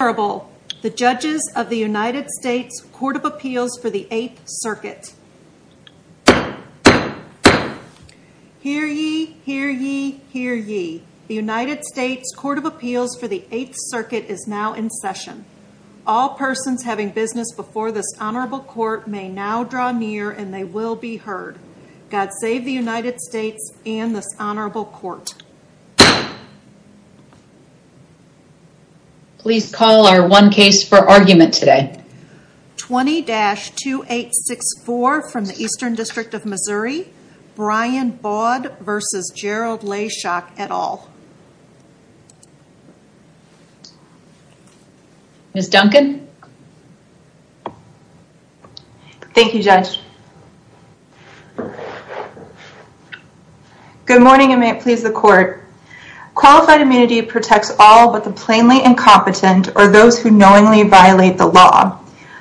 Honorable, the Judges of the United States Court of Appeals for the Eighth Circuit. Hear ye, hear ye, hear ye. The United States Court of Appeals for the Eighth Circuit is now in session. All persons having business before this Honorable Court may now draw near and they will be heard. God save the United States and this Honorable Court. Please call our one case for argument today. 20-2864 from the Eastern District of Missouri, Brian Baude v. Gerald Leyshock et al. Ms. Duncan. Thank you, Judge. Good morning, and may it please the Court. Qualified immunity protects all but the plainly incompetent or those who knowingly violate the law.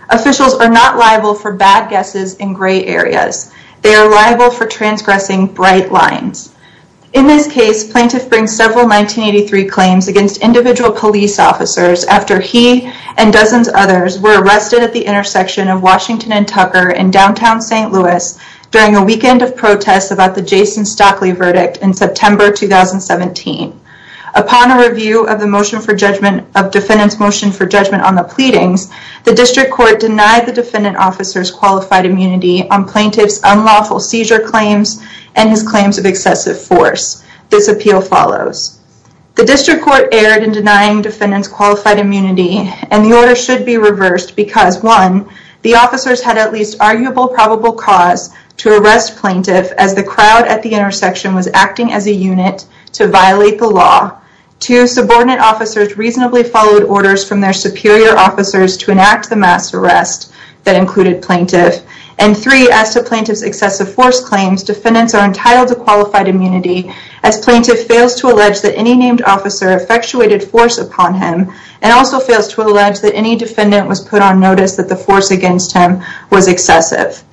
Officials are not liable for bad guesses in gray areas, they are liable for transgressing bright lines. In this case, plaintiff brings several 1983 claims against individual police officers after he and dozens of others were arrested at the intersection of Washington and Tucker in downtown St. Louis during a weekend of protests about the Jason Stockley verdict in September 2017. Upon a review of the motion for judgment of defendant's motion for judgment on the pleadings, the District Court denied the defendant officer's qualified immunity on plaintiff's unlawful seizure claims and his claims of excessive force. This appeal follows. The District Court erred in denying defendant's qualified immunity and the order should be cause to arrest plaintiff as the crowd at the intersection was acting as a unit to violate the law. Two, subordinate officers reasonably followed orders from their superior officers to enact the mass arrest that included plaintiff. And three, as to plaintiff's excessive force claims, defendants are entitled to qualified immunity as plaintiff fails to allege that any named officer effectuated force upon him and also fails to allege that any defendant was put on notice that the force against him was excessive.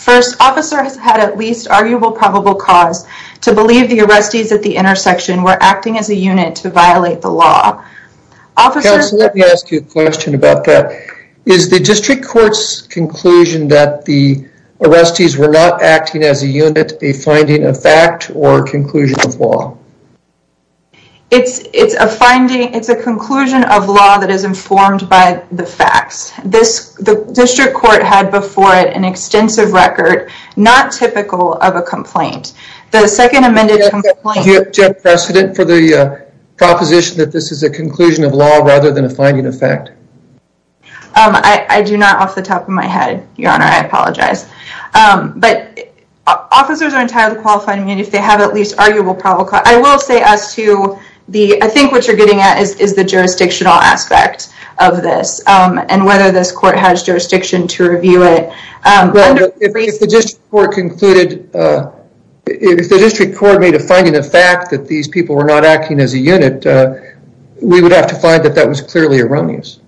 First, officer has had at least arguable probable cause to believe the arrestees at the intersection were acting as a unit to violate the law. Officer... Counselor, let me ask you a question about that. Is the District Court's conclusion that the arrestees were not acting as a unit a finding of fact or conclusion of law? It's a finding... It's a conclusion of law that is informed by the facts. The District Court had before it an extensive record, not typical of a complaint. The second amended complaint... Do you have precedent for the proposition that this is a conclusion of law rather than a finding of fact? I do not off the top of my head, Your Honor. I apologize. But officers are entitled to qualified immunity if they have at least arguable probable cause. I will say as to the... I think what you're getting at is the jurisdictional aspect of this. And whether this court has jurisdiction to review it. If the District Court made a finding of fact that these people were not acting as a unit, we would have to find that that was clearly erroneous.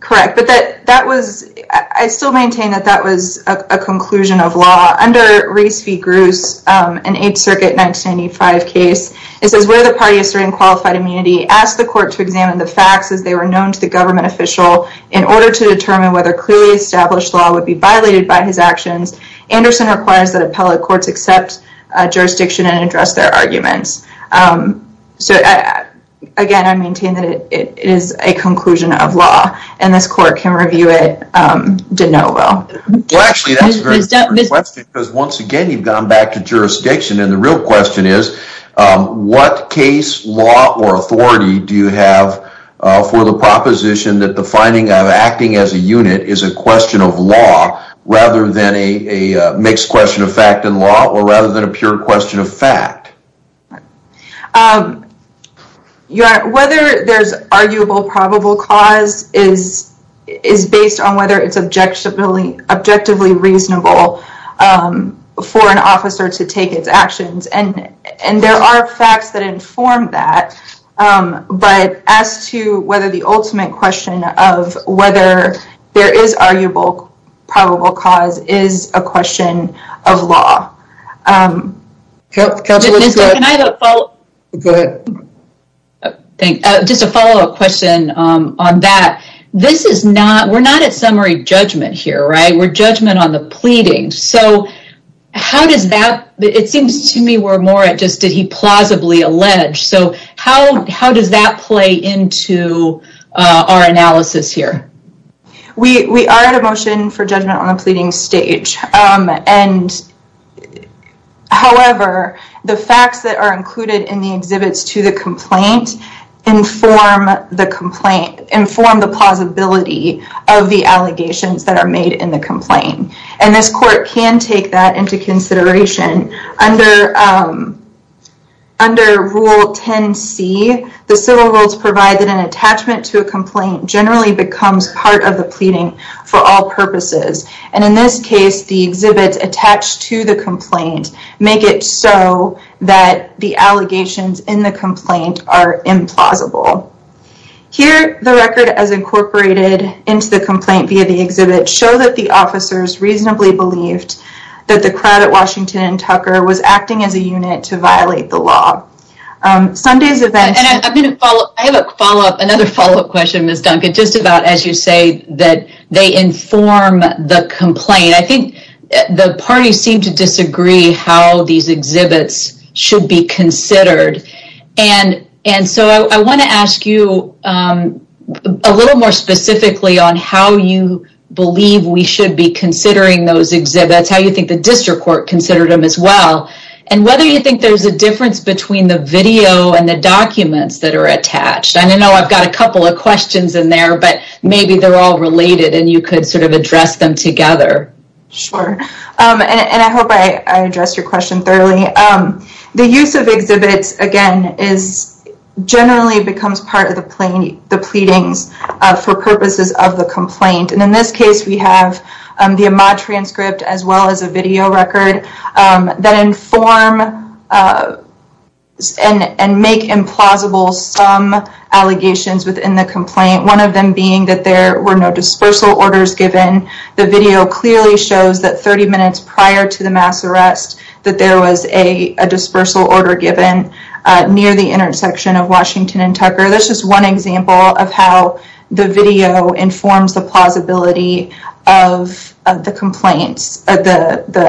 Correct. But that was... I still maintain that that was a conclusion of law. Under Reese v. Gruss, an 8th Circuit 1995 case, it says where the party asserting qualified immunity asked the court to examine the facts as they were known to the government official in order to determine whether clearly established law would be violated by his actions. Anderson requires that appellate courts accept jurisdiction and address their arguments. So again, I maintain that it is a conclusion of law and this court can review it de novo. Well, actually, that's a very good question because once again, you've gone back to jurisdiction and the real question is, what case, law, or authority do you have for the proposition that the finding of acting as a unit is a question of law rather than a mixed question of fact and law or rather than a pure question of fact? Whether there's arguable probable cause is based on whether it's objectively reasonable for an officer to take its actions and there are facts that inform that, but as to whether the ultimate question of whether there is arguable probable cause is a question of law. Counselor, can I have a follow-up question on that? We're not at summary judgment here, right? We're judgment on the pleading. So how does that, it seems to me we're more at just, did he plausibly allege? So how does that play into our analysis here? We are at a motion for judgment on the pleading stage and however, the facts that are included in the exhibits to the complaint inform the plausibility of the allegations that are made in the complaint and this court can take that into consideration under rule 10C, the civil rules provide that an attachment to a complaint generally becomes part of the pleading for all purposes and in this case, the exhibits attached to the complaint make it so that the allegations in the complaint are implausible. Here, the record as incorporated into the complaint via the exhibit show that the officers reasonably believed that the crowd at Washington and Tucker was acting as a unit to violate the law. Sunday's event- And I have a follow-up, another follow-up question, Ms. Duncan, just about as you say that they inform the complaint. I think the parties seem to disagree how these exhibits should be considered and so I want to ask you a little more specifically on how you believe we should be considering those exhibits, how you think the district court considered them as well and whether you think there's a difference between the video and the documents that are attached and I know I've got a couple of questions in there but maybe they're all related and you could sort of address them together. Sure, and I hope I addressed your question thoroughly. The use of exhibits, again, generally becomes part of the pleadings for purposes of the complaint and in this case, we have the AMA transcript as well as a video record that inform and make implausible some allegations within the complaint, one of them being that there were no dispersal orders given. The video clearly shows that 30 minutes prior to the mass arrest that there was a dispersal order given near the intersection of Washington and Tucker. That's just one example of how the video informs the plausibility of the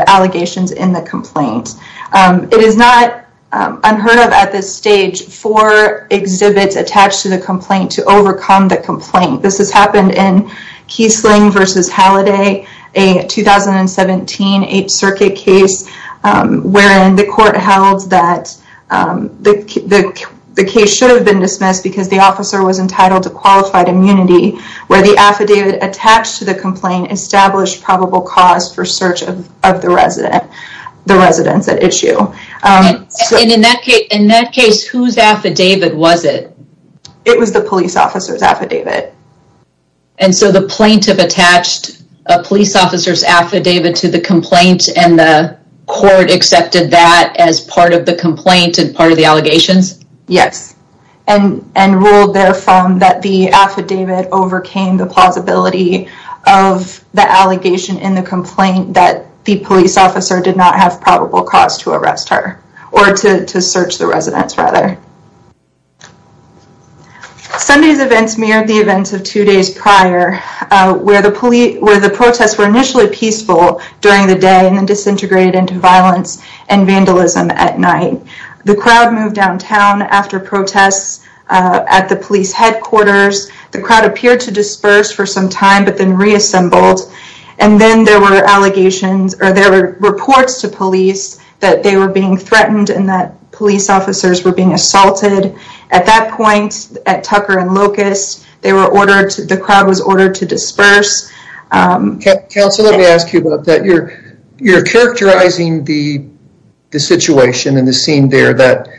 allegations in the complaint. It is not unheard of at this stage for exhibits attached to the complaint to overcome the complaint. This has happened in Kiesling versus Halliday, a 2017 8th Circuit case wherein the court held that the case should have been dismissed because the officer was entitled to qualified immunity where the affidavit attached to the complaint established probable cause for search of the residents at issue. And in that case, whose affidavit was it? It was the police officer's affidavit. And so the plaintiff attached a police officer's affidavit to the complaint and the court accepted that as part of the complaint and part of the allegations? Yes, and ruled therefrom that the affidavit overcame the plausibility of the allegation in the complaint that the police officer did not have probable cause to arrest her or to search the residents rather. Sunday's events mirrored the events of two days prior where the protests were initially peaceful during the day and then disintegrated into violence and vandalism at night. The crowd moved downtown after protests at the police headquarters. The crowd appeared to disperse for some time but then reassembled and then there were allegations or there were reports to police that they were being threatened and that police officers were being assaulted. At that point, at Tucker and Locust, the crowd was ordered to disperse. Counselor, let me ask you about that. You're characterizing the situation and the scene there that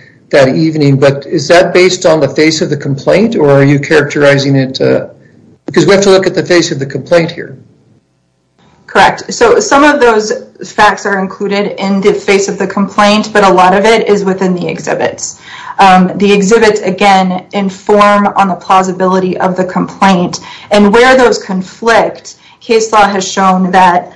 evening, but is that based on the face of the complaint or are you characterizing it? Because we have to look at the face of the complaint here. Correct. So some of those facts are included in the face of the complaint, but a lot of it is in the exhibits. The exhibits, again, inform on the plausibility of the complaint and where those conflict. Case law has shown that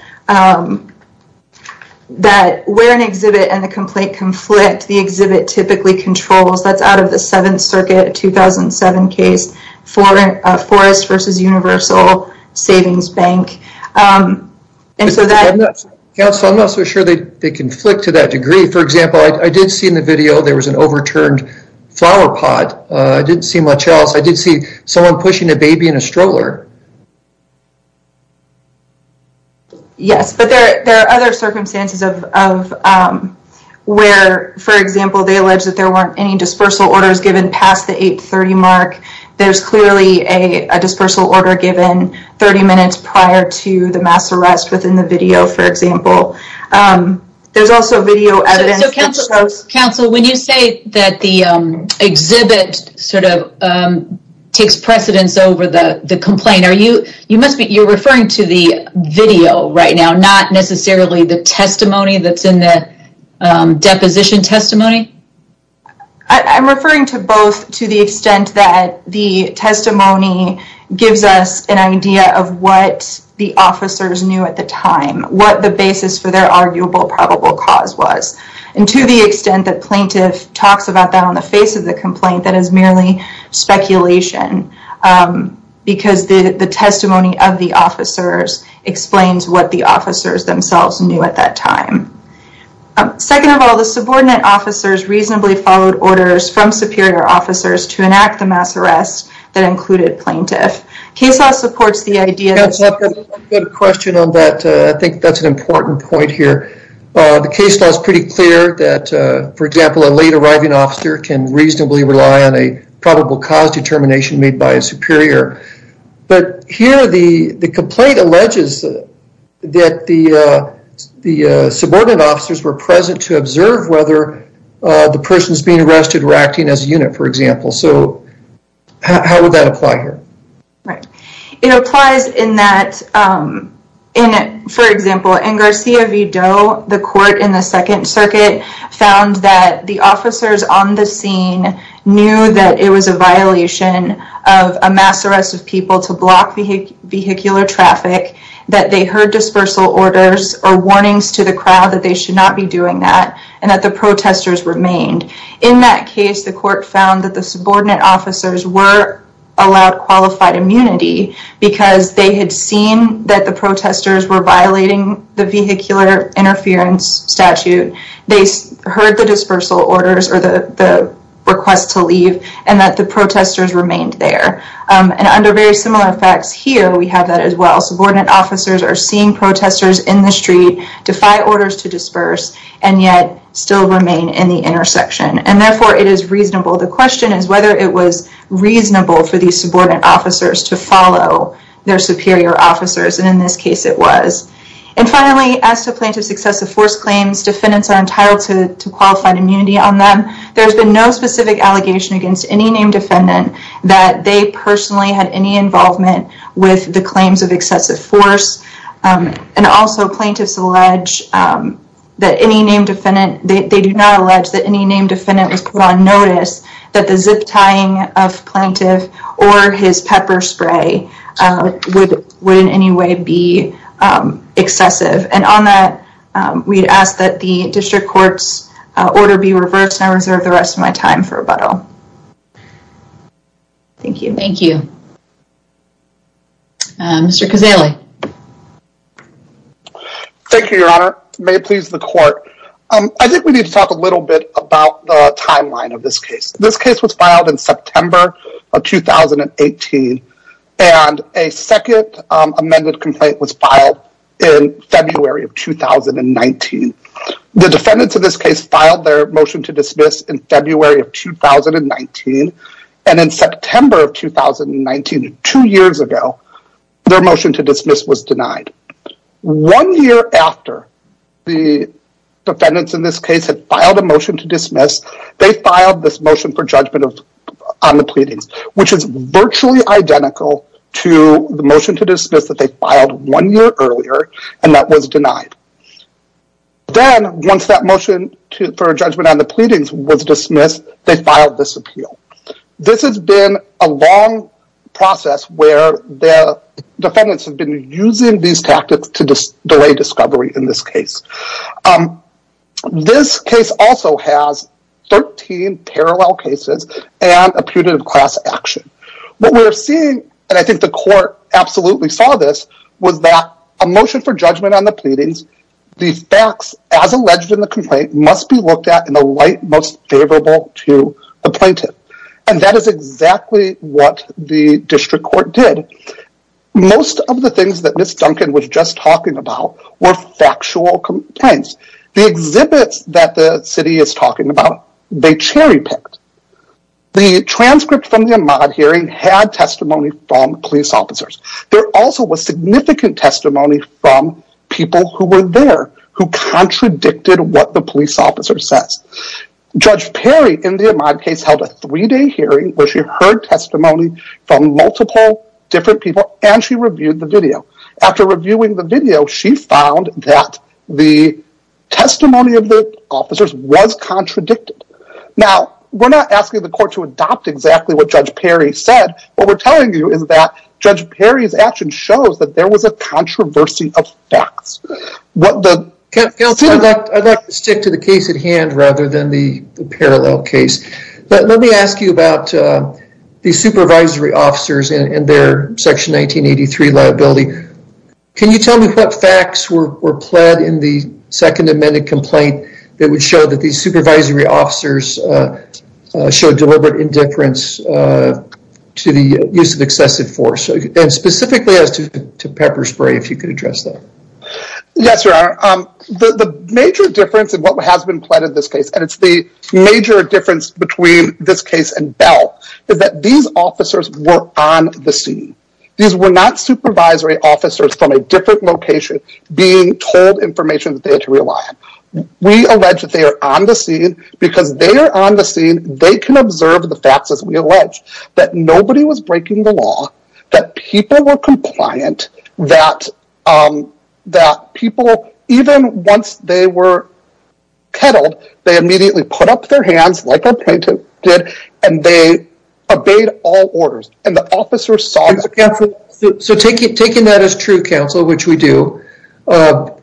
where an exhibit and the complaint conflict, the exhibit typically controls. That's out of the Seventh Circuit 2007 case, Forest versus Universal Savings Bank. Counselor, I'm not so sure they conflict to that degree. For example, I did see in the video there was an overturned flower pot. I didn't see much else. I did see someone pushing a baby in a stroller. Yes, but there are other circumstances where, for example, they alleged that there weren't any dispersal orders given past the 830 mark. There's clearly a dispersal order given 30 minutes prior to the mass arrest within the video, for example. There's also video evidence that shows- Counsel, when you say that the exhibit sort of takes precedence over the complaint, you're referring to the video right now, not necessarily the testimony that's in the deposition testimony? I'm referring to both to the extent that the testimony gives us an idea of what the arguable probable cause was. To the extent that plaintiff talks about that on the face of the complaint, that is merely speculation because the testimony of the officers explains what the officers themselves knew at that time. Second of all, the subordinate officers reasonably followed orders from superior officers to enact the mass arrest that included plaintiff. Case law supports the idea- I have a question on that. I think that's an important point here. The case law is pretty clear that, for example, a late arriving officer can reasonably rely on a probable cause determination made by a superior. But here, the complaint alleges that the subordinate officers were present to observe whether the persons being arrested were acting as a unit, for example. So how would that apply here? Right. It applies in that, for example, in Garcia V. Doe, the court in the Second Circuit found that the officers on the scene knew that it was a violation of a mass arrest of people to block vehicular traffic, that they heard dispersal orders or warnings to the crowd that they should not be doing that, and that the protesters remained. In that case, the court found that the subordinate officers were allowed qualified immunity because they had seen that the protesters were violating the vehicular interference statute, they heard the dispersal orders or the request to leave, and that the protesters remained there. And under very similar facts here, we have that as well. Subordinate officers are seeing protesters in the street, defy orders to disperse, and still remain in the intersection. And therefore, it is reasonable. The question is whether it was reasonable for these subordinate officers to follow their superior officers, and in this case, it was. And finally, as to plaintiff's excessive force claims, defendants are entitled to qualified immunity on them. There's been no specific allegation against any named defendant that they personally had any involvement with the claims of excessive force. And also, plaintiffs allege that any named defendant, they do not allege that any named defendant was put on notice that the zip tying of plaintiff or his pepper spray would in any way be excessive. And on that, we'd ask that the district court's order be reversed, and I reserve the rest of my time for rebuttal. Thank you. Thank you. Mr. Cazaley. Thank you, Your Honor. May it please the court. I think we need to talk a little bit about the timeline of this case. This case was filed in September of 2018, and a second amended complaint was filed in February of 2019. The defendants of this case filed their motion to dismiss in February of 2019, and in September of 2019, two years ago, their motion to dismiss was denied. One year after the defendants in this case had filed a motion to dismiss, they filed this motion for judgment on the pleadings, which is virtually identical to the motion to dismiss that they filed one year earlier, and that was denied. Then, once that motion for judgment on the pleadings was dismissed, they filed this appeal. This has been a long process where the defendants have been using these tactics to delay discovery in this case. This case also has 13 parallel cases and a putative class action. What we're seeing, and I think the court absolutely saw this, was that a motion for judgment on the pleadings, the facts as alleged in the complaint must be looked at in the light most and that is exactly what the district court did. Most of the things that Ms. Duncan was just talking about were factual complaints. The exhibits that the city is talking about, they cherry picked. The transcript from the Ahmaud hearing had testimony from police officers. There also was significant testimony from people who were there who contradicted what the police officer says. Judge Perry, in the Ahmaud case, held a three-day hearing where she heard testimony from multiple different people and she reviewed the video. After reviewing the video, she found that the testimony of the officers was contradicted. We're not asking the court to adopt exactly what Judge Perry said. What we're telling you is that Judge Perry's action shows that there was a controversy of facts. Counselor, I'd like to stick to the case at hand rather than the parallel case. Let me ask you about the supervisory officers and their section 1983 liability. Can you tell me what facts were pled in the second amended complaint that would show that these supervisory officers showed deliberate indifference to the use of excessive force? Specifically as to pepper spray, if you could address that. Yes, Your Honor. The major difference in what has been pled in this case, and it's the major difference between this case and Bell, is that these officers were on the scene. These were not supervisory officers from a different location being told information that they had to rely on. We allege that they are on the scene because they are on the scene. They can observe the facts as we allege that nobody was breaking the law, that people were even once they were peddled, they immediately put up their hands like our plaintiff did, and they obeyed all orders. And the officers saw that. So taking that as true, counsel, which we do,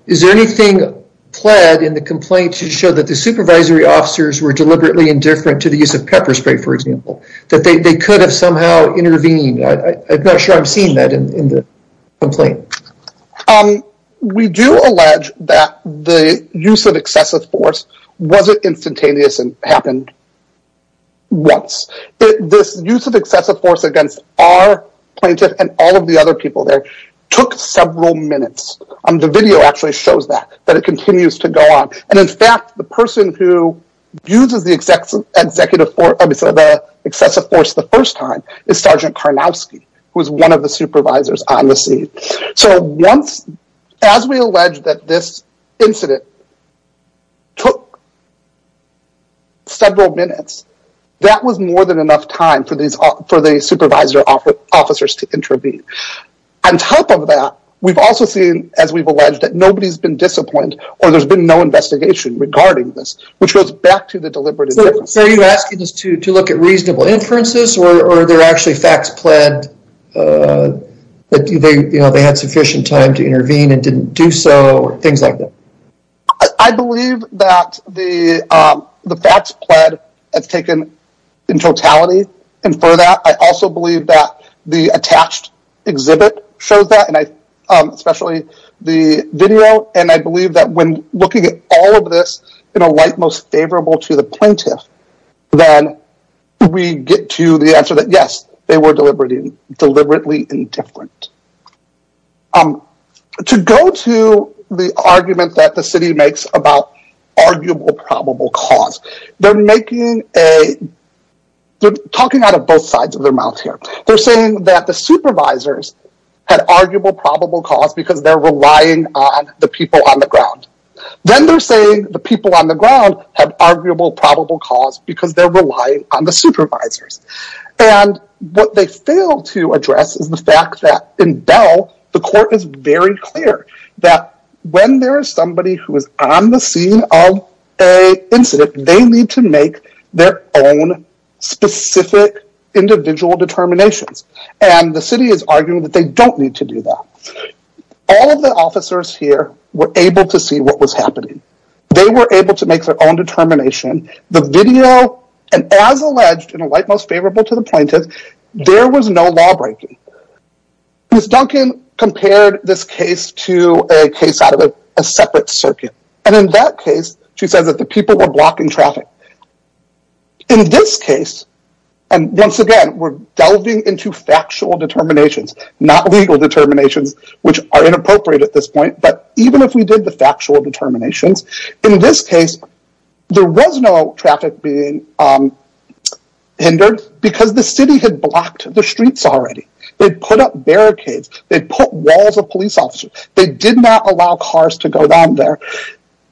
is there anything pled in the complaint to show that the supervisory officers were deliberately indifferent to the use of pepper spray, for example, that they could have somehow intervened? I'm not sure I'm seeing that in the complaint. Um, we do allege that the use of excessive force wasn't instantaneous and happened once. This use of excessive force against our plaintiff and all of the other people there took several minutes. The video actually shows that, that it continues to go on. And in fact, the person who uses the excessive force the first time is Sergeant Karnowski, who is one of the supervisors on the scene. So once, as we allege that this incident took several minutes, that was more than enough time for the supervisor officers to intervene. On top of that, we've also seen, as we've alleged, that nobody's been disappointed or there's been no investigation regarding this, which goes back to the deliberate indifference. So are you asking us to look at reasonable inferences or are there actually facts pled that they had sufficient time to intervene and didn't do so or things like that? I believe that the facts pled have taken in totality. And for that, I also believe that the attached exhibit shows that, especially the video. And I believe that when looking at all of this in a light most favorable to the plaintiff, then we get to the answer that, yes, they were deliberately indifferent. To go to the argument that the city makes about arguable probable cause, they're making a, they're talking out of both sides of their mouth here. They're saying that the supervisors had arguable probable cause because they're relying on the people on the ground. Then they're saying the people on the ground have arguable probable cause because they're relying on the supervisors. And what they fail to address is the fact that in Bell, the court is very clear that when there is somebody who is on the scene of a incident, they need to make their own specific individual determinations. And the city is arguing that they don't need to do that. All of the officers here were able to see what was happening. They were able to make their own determination. The video, and as alleged in a light most favorable to the plaintiff, there was no law breaking. Ms. Duncan compared this case to a case out of a separate circuit. And in that case, she says that the people were blocking traffic. In this case, and once again, we're delving into factual determinations, not legal determinations, which are inappropriate at this point. But even if we did the factual determinations, in this case, there was no traffic being hindered because the city had blocked the streets already. They put up barricades. They put walls of police officers. They did not allow cars to go down there.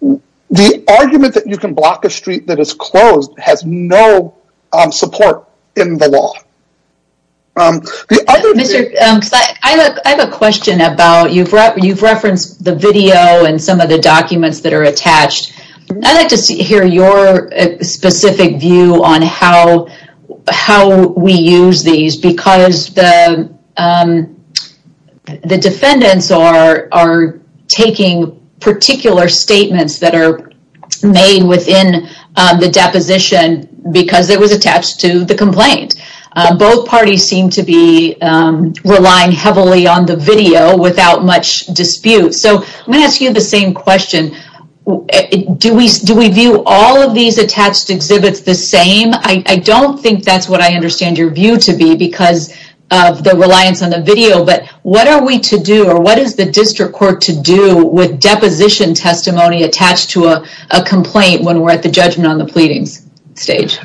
The argument that you can block a street that is closed has no support in the law. I have a question about, you've referenced the video and some of the documents that are attached. I'd like to hear your specific view on how we use these because the defendants are taking particular statements that are made within the deposition because it was attached to the complaint. Both parties seem to be relying heavily on the video without much dispute. So I'm going to ask you the same question. Do we view all of these attached exhibits the same? I don't think that's what I understand your view to be because of the reliance on the video. But what are we to do or what is the district court to do with deposition testimony attached to a complaint when we're at the judgment on the pleadings stage?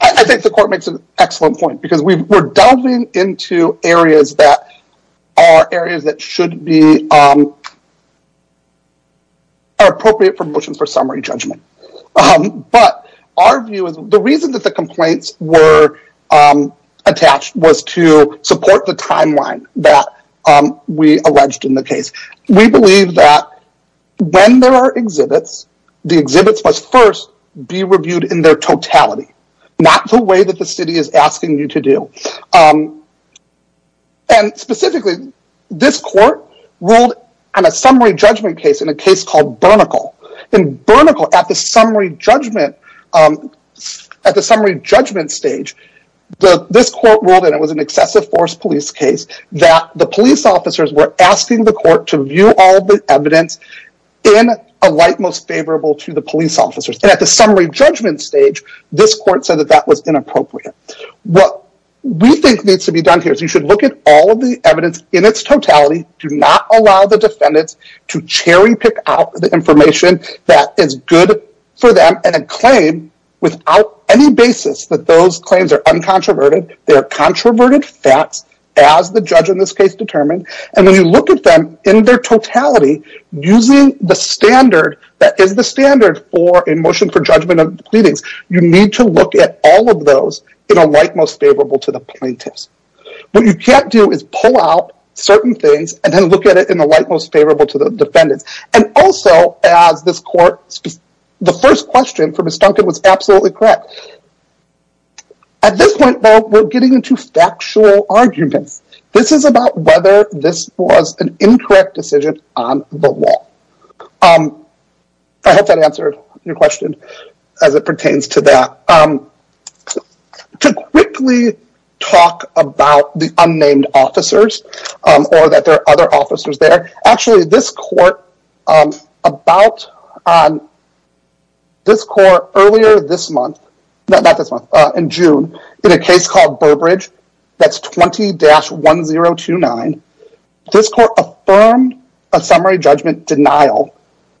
I think the court makes an excellent point because we're delving into areas that are areas that should be appropriate for motions for summary judgment. But our view is the reason that the complaints were attached was to support the timeline that we alleged in the case. We believe that when there are exhibits, the exhibits must first be reviewed in their totality, not the way that the city is asking you to do. Specifically, this court ruled on a summary judgment case in a case called Burnicle. In Burnicle, at the summary judgment stage, this court ruled, and it was an excessive court to view all the evidence in a light most favorable to the police officers. And at the summary judgment stage, this court said that that was inappropriate. What we think needs to be done here is you should look at all of the evidence in its totality. Do not allow the defendants to cherry pick out the information that is good for them and a claim without any basis that those claims are uncontroverted. They are controverted facts as the judge in this case determined. And when you look at them in their totality, using the standard that is the standard for a motion for judgment of the pleadings, you need to look at all of those in a light most favorable to the plaintiffs. What you can't do is pull out certain things and then look at it in the light most favorable to the defendants. And also, as this court, the first question for Ms. Duncan was absolutely correct. At this point, though, we're getting into factual arguments. This is about whether this was an incorrect decision on the law. I hope that answered your question as it pertains to that. To quickly talk about the unnamed officers or that there are other officers there, actually this court, about this court earlier this month, not this month, in June, in a case called Burbridge, that's 20-1029, this court affirmed a summary judgment denial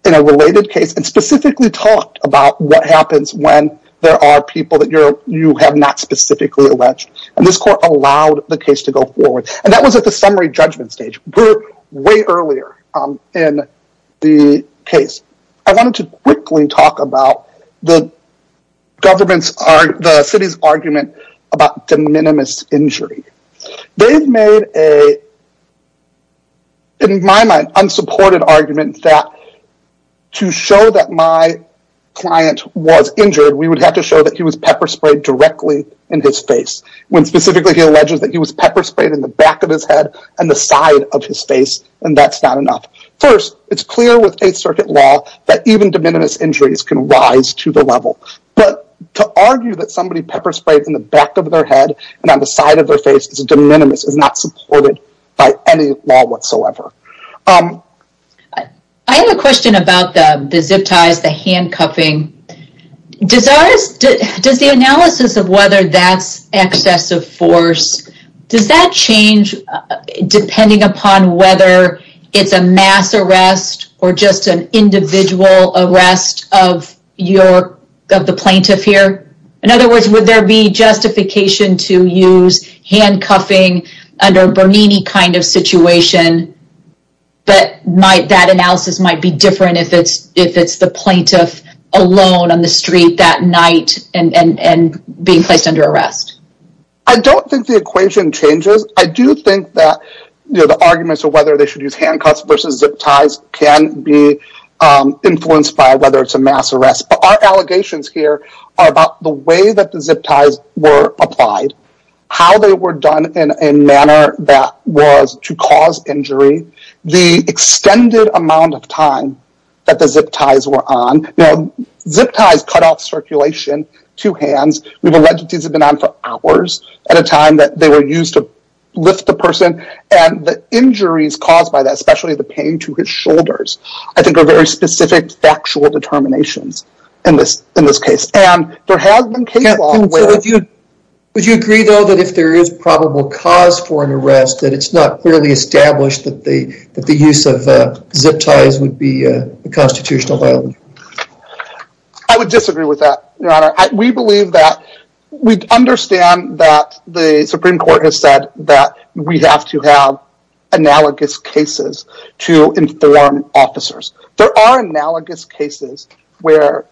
in a related case and specifically talked about what happens when there are people that you have not specifically alleged. And this court allowed the case to go forward. And that was at the summary judgment stage, way earlier in the case. I wanted to quickly talk about the city's argument about de minimis injury. They've made a, in my mind, unsupported argument that to show that my client was injured, we would have to show that he was pepper sprayed directly in his face, when specifically he alleges that he was pepper sprayed in the back of his head and the side of his face, and that's not enough. First, it's clear with Eighth Circuit law that even de minimis injuries can rise to the level. But to argue that somebody pepper sprayed in the back of their head and on the side of their face is de minimis is not supported by any law whatsoever. I have a question about the zip ties, the handcuffing. Does the analysis of whether that's excessive force, does that change depending upon whether it's a mass arrest or just an individual arrest of the plaintiff here? In other words, would there be justification to use handcuffing under a Bernini kind of situation, but that analysis might be different if it's the plaintiff alone on the street that night and being placed under arrest? I don't think the equation changes. I do think that the arguments of whether they should use handcuffs versus zip ties can be influenced by whether it's a mass arrest. But our allegations here are about the way that the zip ties were applied, how they were done in a manner that was to cause injury, the extended amount of time that the zip ties were on. Now, zip ties cut off circulation to hands. We've alleged that these have been on for hours at a time that they were used to lift the person. And the injuries caused by that, especially the pain to his shoulders, I think are very specific factual determinations in this case. And there has been case law where- Would you agree, though, that if there is probable cause for an arrest, that it's not clearly established that the use of zip ties would I would disagree with that, Your Honor. We believe that- We understand that the Supreme Court has said that we have to have analogous cases to inform officers. There are analogous cases where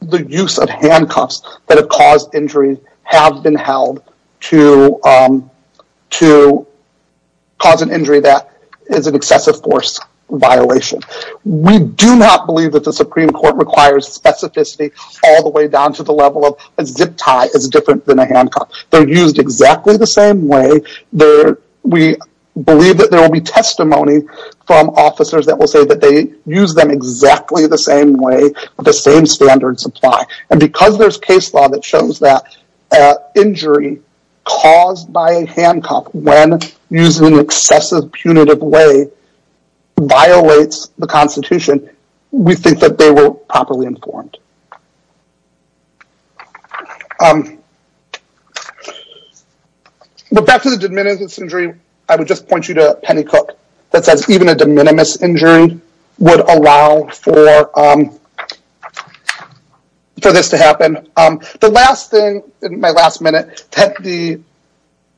the use of handcuffs that have caused injury have been held to cause an injury that is an excessive force violation. We do not believe that the Supreme Court requires specificity all the way down to the level of a zip tie is different than a handcuff. They're used exactly the same way. We believe that there will be testimony from officers that will say that they use them exactly the same way with the same standard supply. And because there's case law that shows that injury caused by a handcuff when used in an excessive, punitive way violates the Constitution, we think that they were properly informed. But back to the de minimis injury, I would just point you to Penny Cook that says even a de minimis injury would allow for this to happen. The last thing in my last minute that the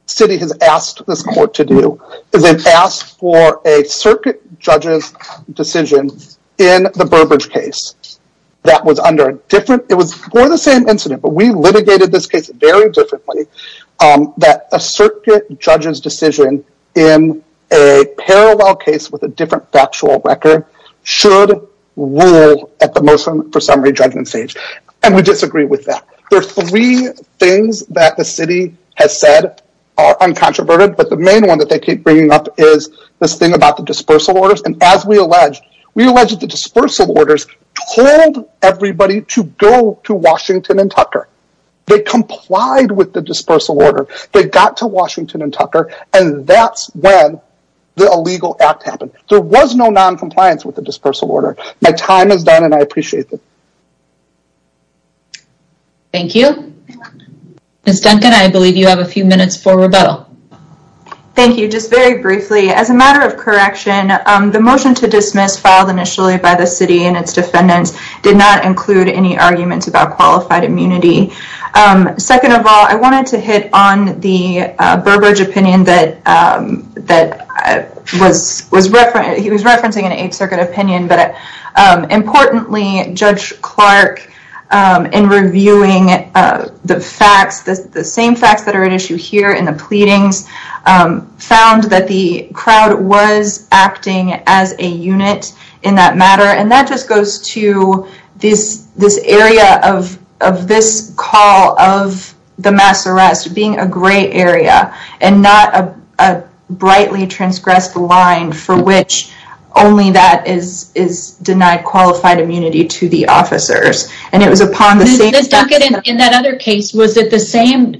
city has asked this court to do is they've asked for a circuit judge's decision in the Burbridge case that was under a different- It was more of the same incident, but we litigated this case very differently, that a circuit judge's decision in a parallel case with a different factual record should rule at the There are three things that the city has said are uncontroverted, but the main one that they keep bringing up is this thing about the dispersal orders. And as we allege, we allege that the dispersal orders told everybody to go to Washington and Tucker. They complied with the dispersal order. They got to Washington and Tucker, and that's when the illegal act happened. There was no noncompliance with the dispersal order. My time is done, and I appreciate it. Thank you. Ms. Duncan, I believe you have a few minutes for rebuttal. Thank you. Just very briefly, as a matter of correction, the motion to dismiss filed initially by the city and its defendants did not include any arguments about qualified immunity. Second of all, I wanted to hit on the Burbridge opinion that he was referencing an Eighth the same facts that are at issue here in the pleadings found that the crowd was acting as a unit in that matter, and that just goes to this area of this call of the mass arrest being a gray area and not a brightly transgressed line for which only that is denied qualified immunity to the officers. It was upon the same- Ms. Duncan, in that other case, was it the same?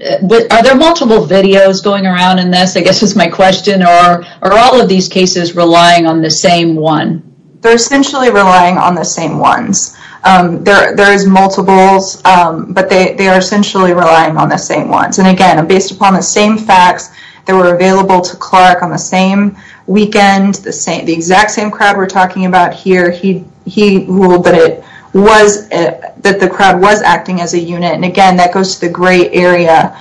Are there multiple videos going around in this? I guess that's my question, or are all of these cases relying on the same one? They're essentially relying on the same ones. There's multiples, but they are essentially relying on the same ones. Again, based upon the same facts that were available to Clark on the same weekend, the crowd was acting as a unit. Again, that goes to the gray area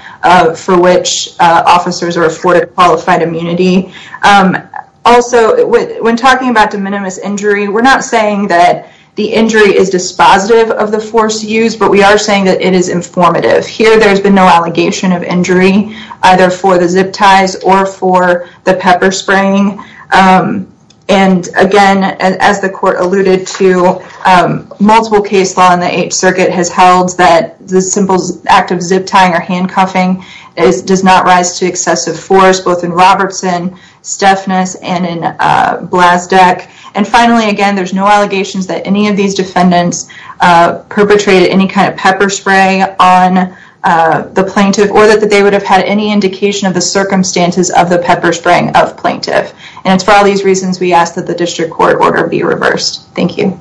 for which officers are afforded qualified immunity. Also, when talking about de minimis injury, we're not saying that the injury is dispositive of the force used, but we are saying that it is informative. Here, there's been no allegation of injury either for the zip ties or for the pepper spraying. Again, as the court alluded to, multiple case law in the Eighth Circuit has held that the simple act of zip tying or handcuffing does not rise to excessive force, both in Robertson, Stefnes, and in Blazdek. Finally, again, there's no allegations that any of these defendants perpetrated any kind of pepper spray on the plaintiff, or that they would have had any indication of the And it's for all these reasons, we ask that the district court order be reversed. Thank you.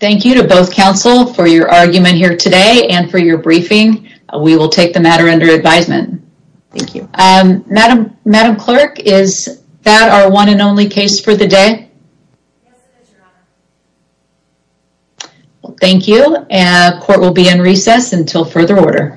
Thank you to both counsel for your argument here today and for your briefing. We will take the matter under advisement. Thank you. Madam Clerk, is that our one and only case for the day? Thank you, and court will be in recess until further order.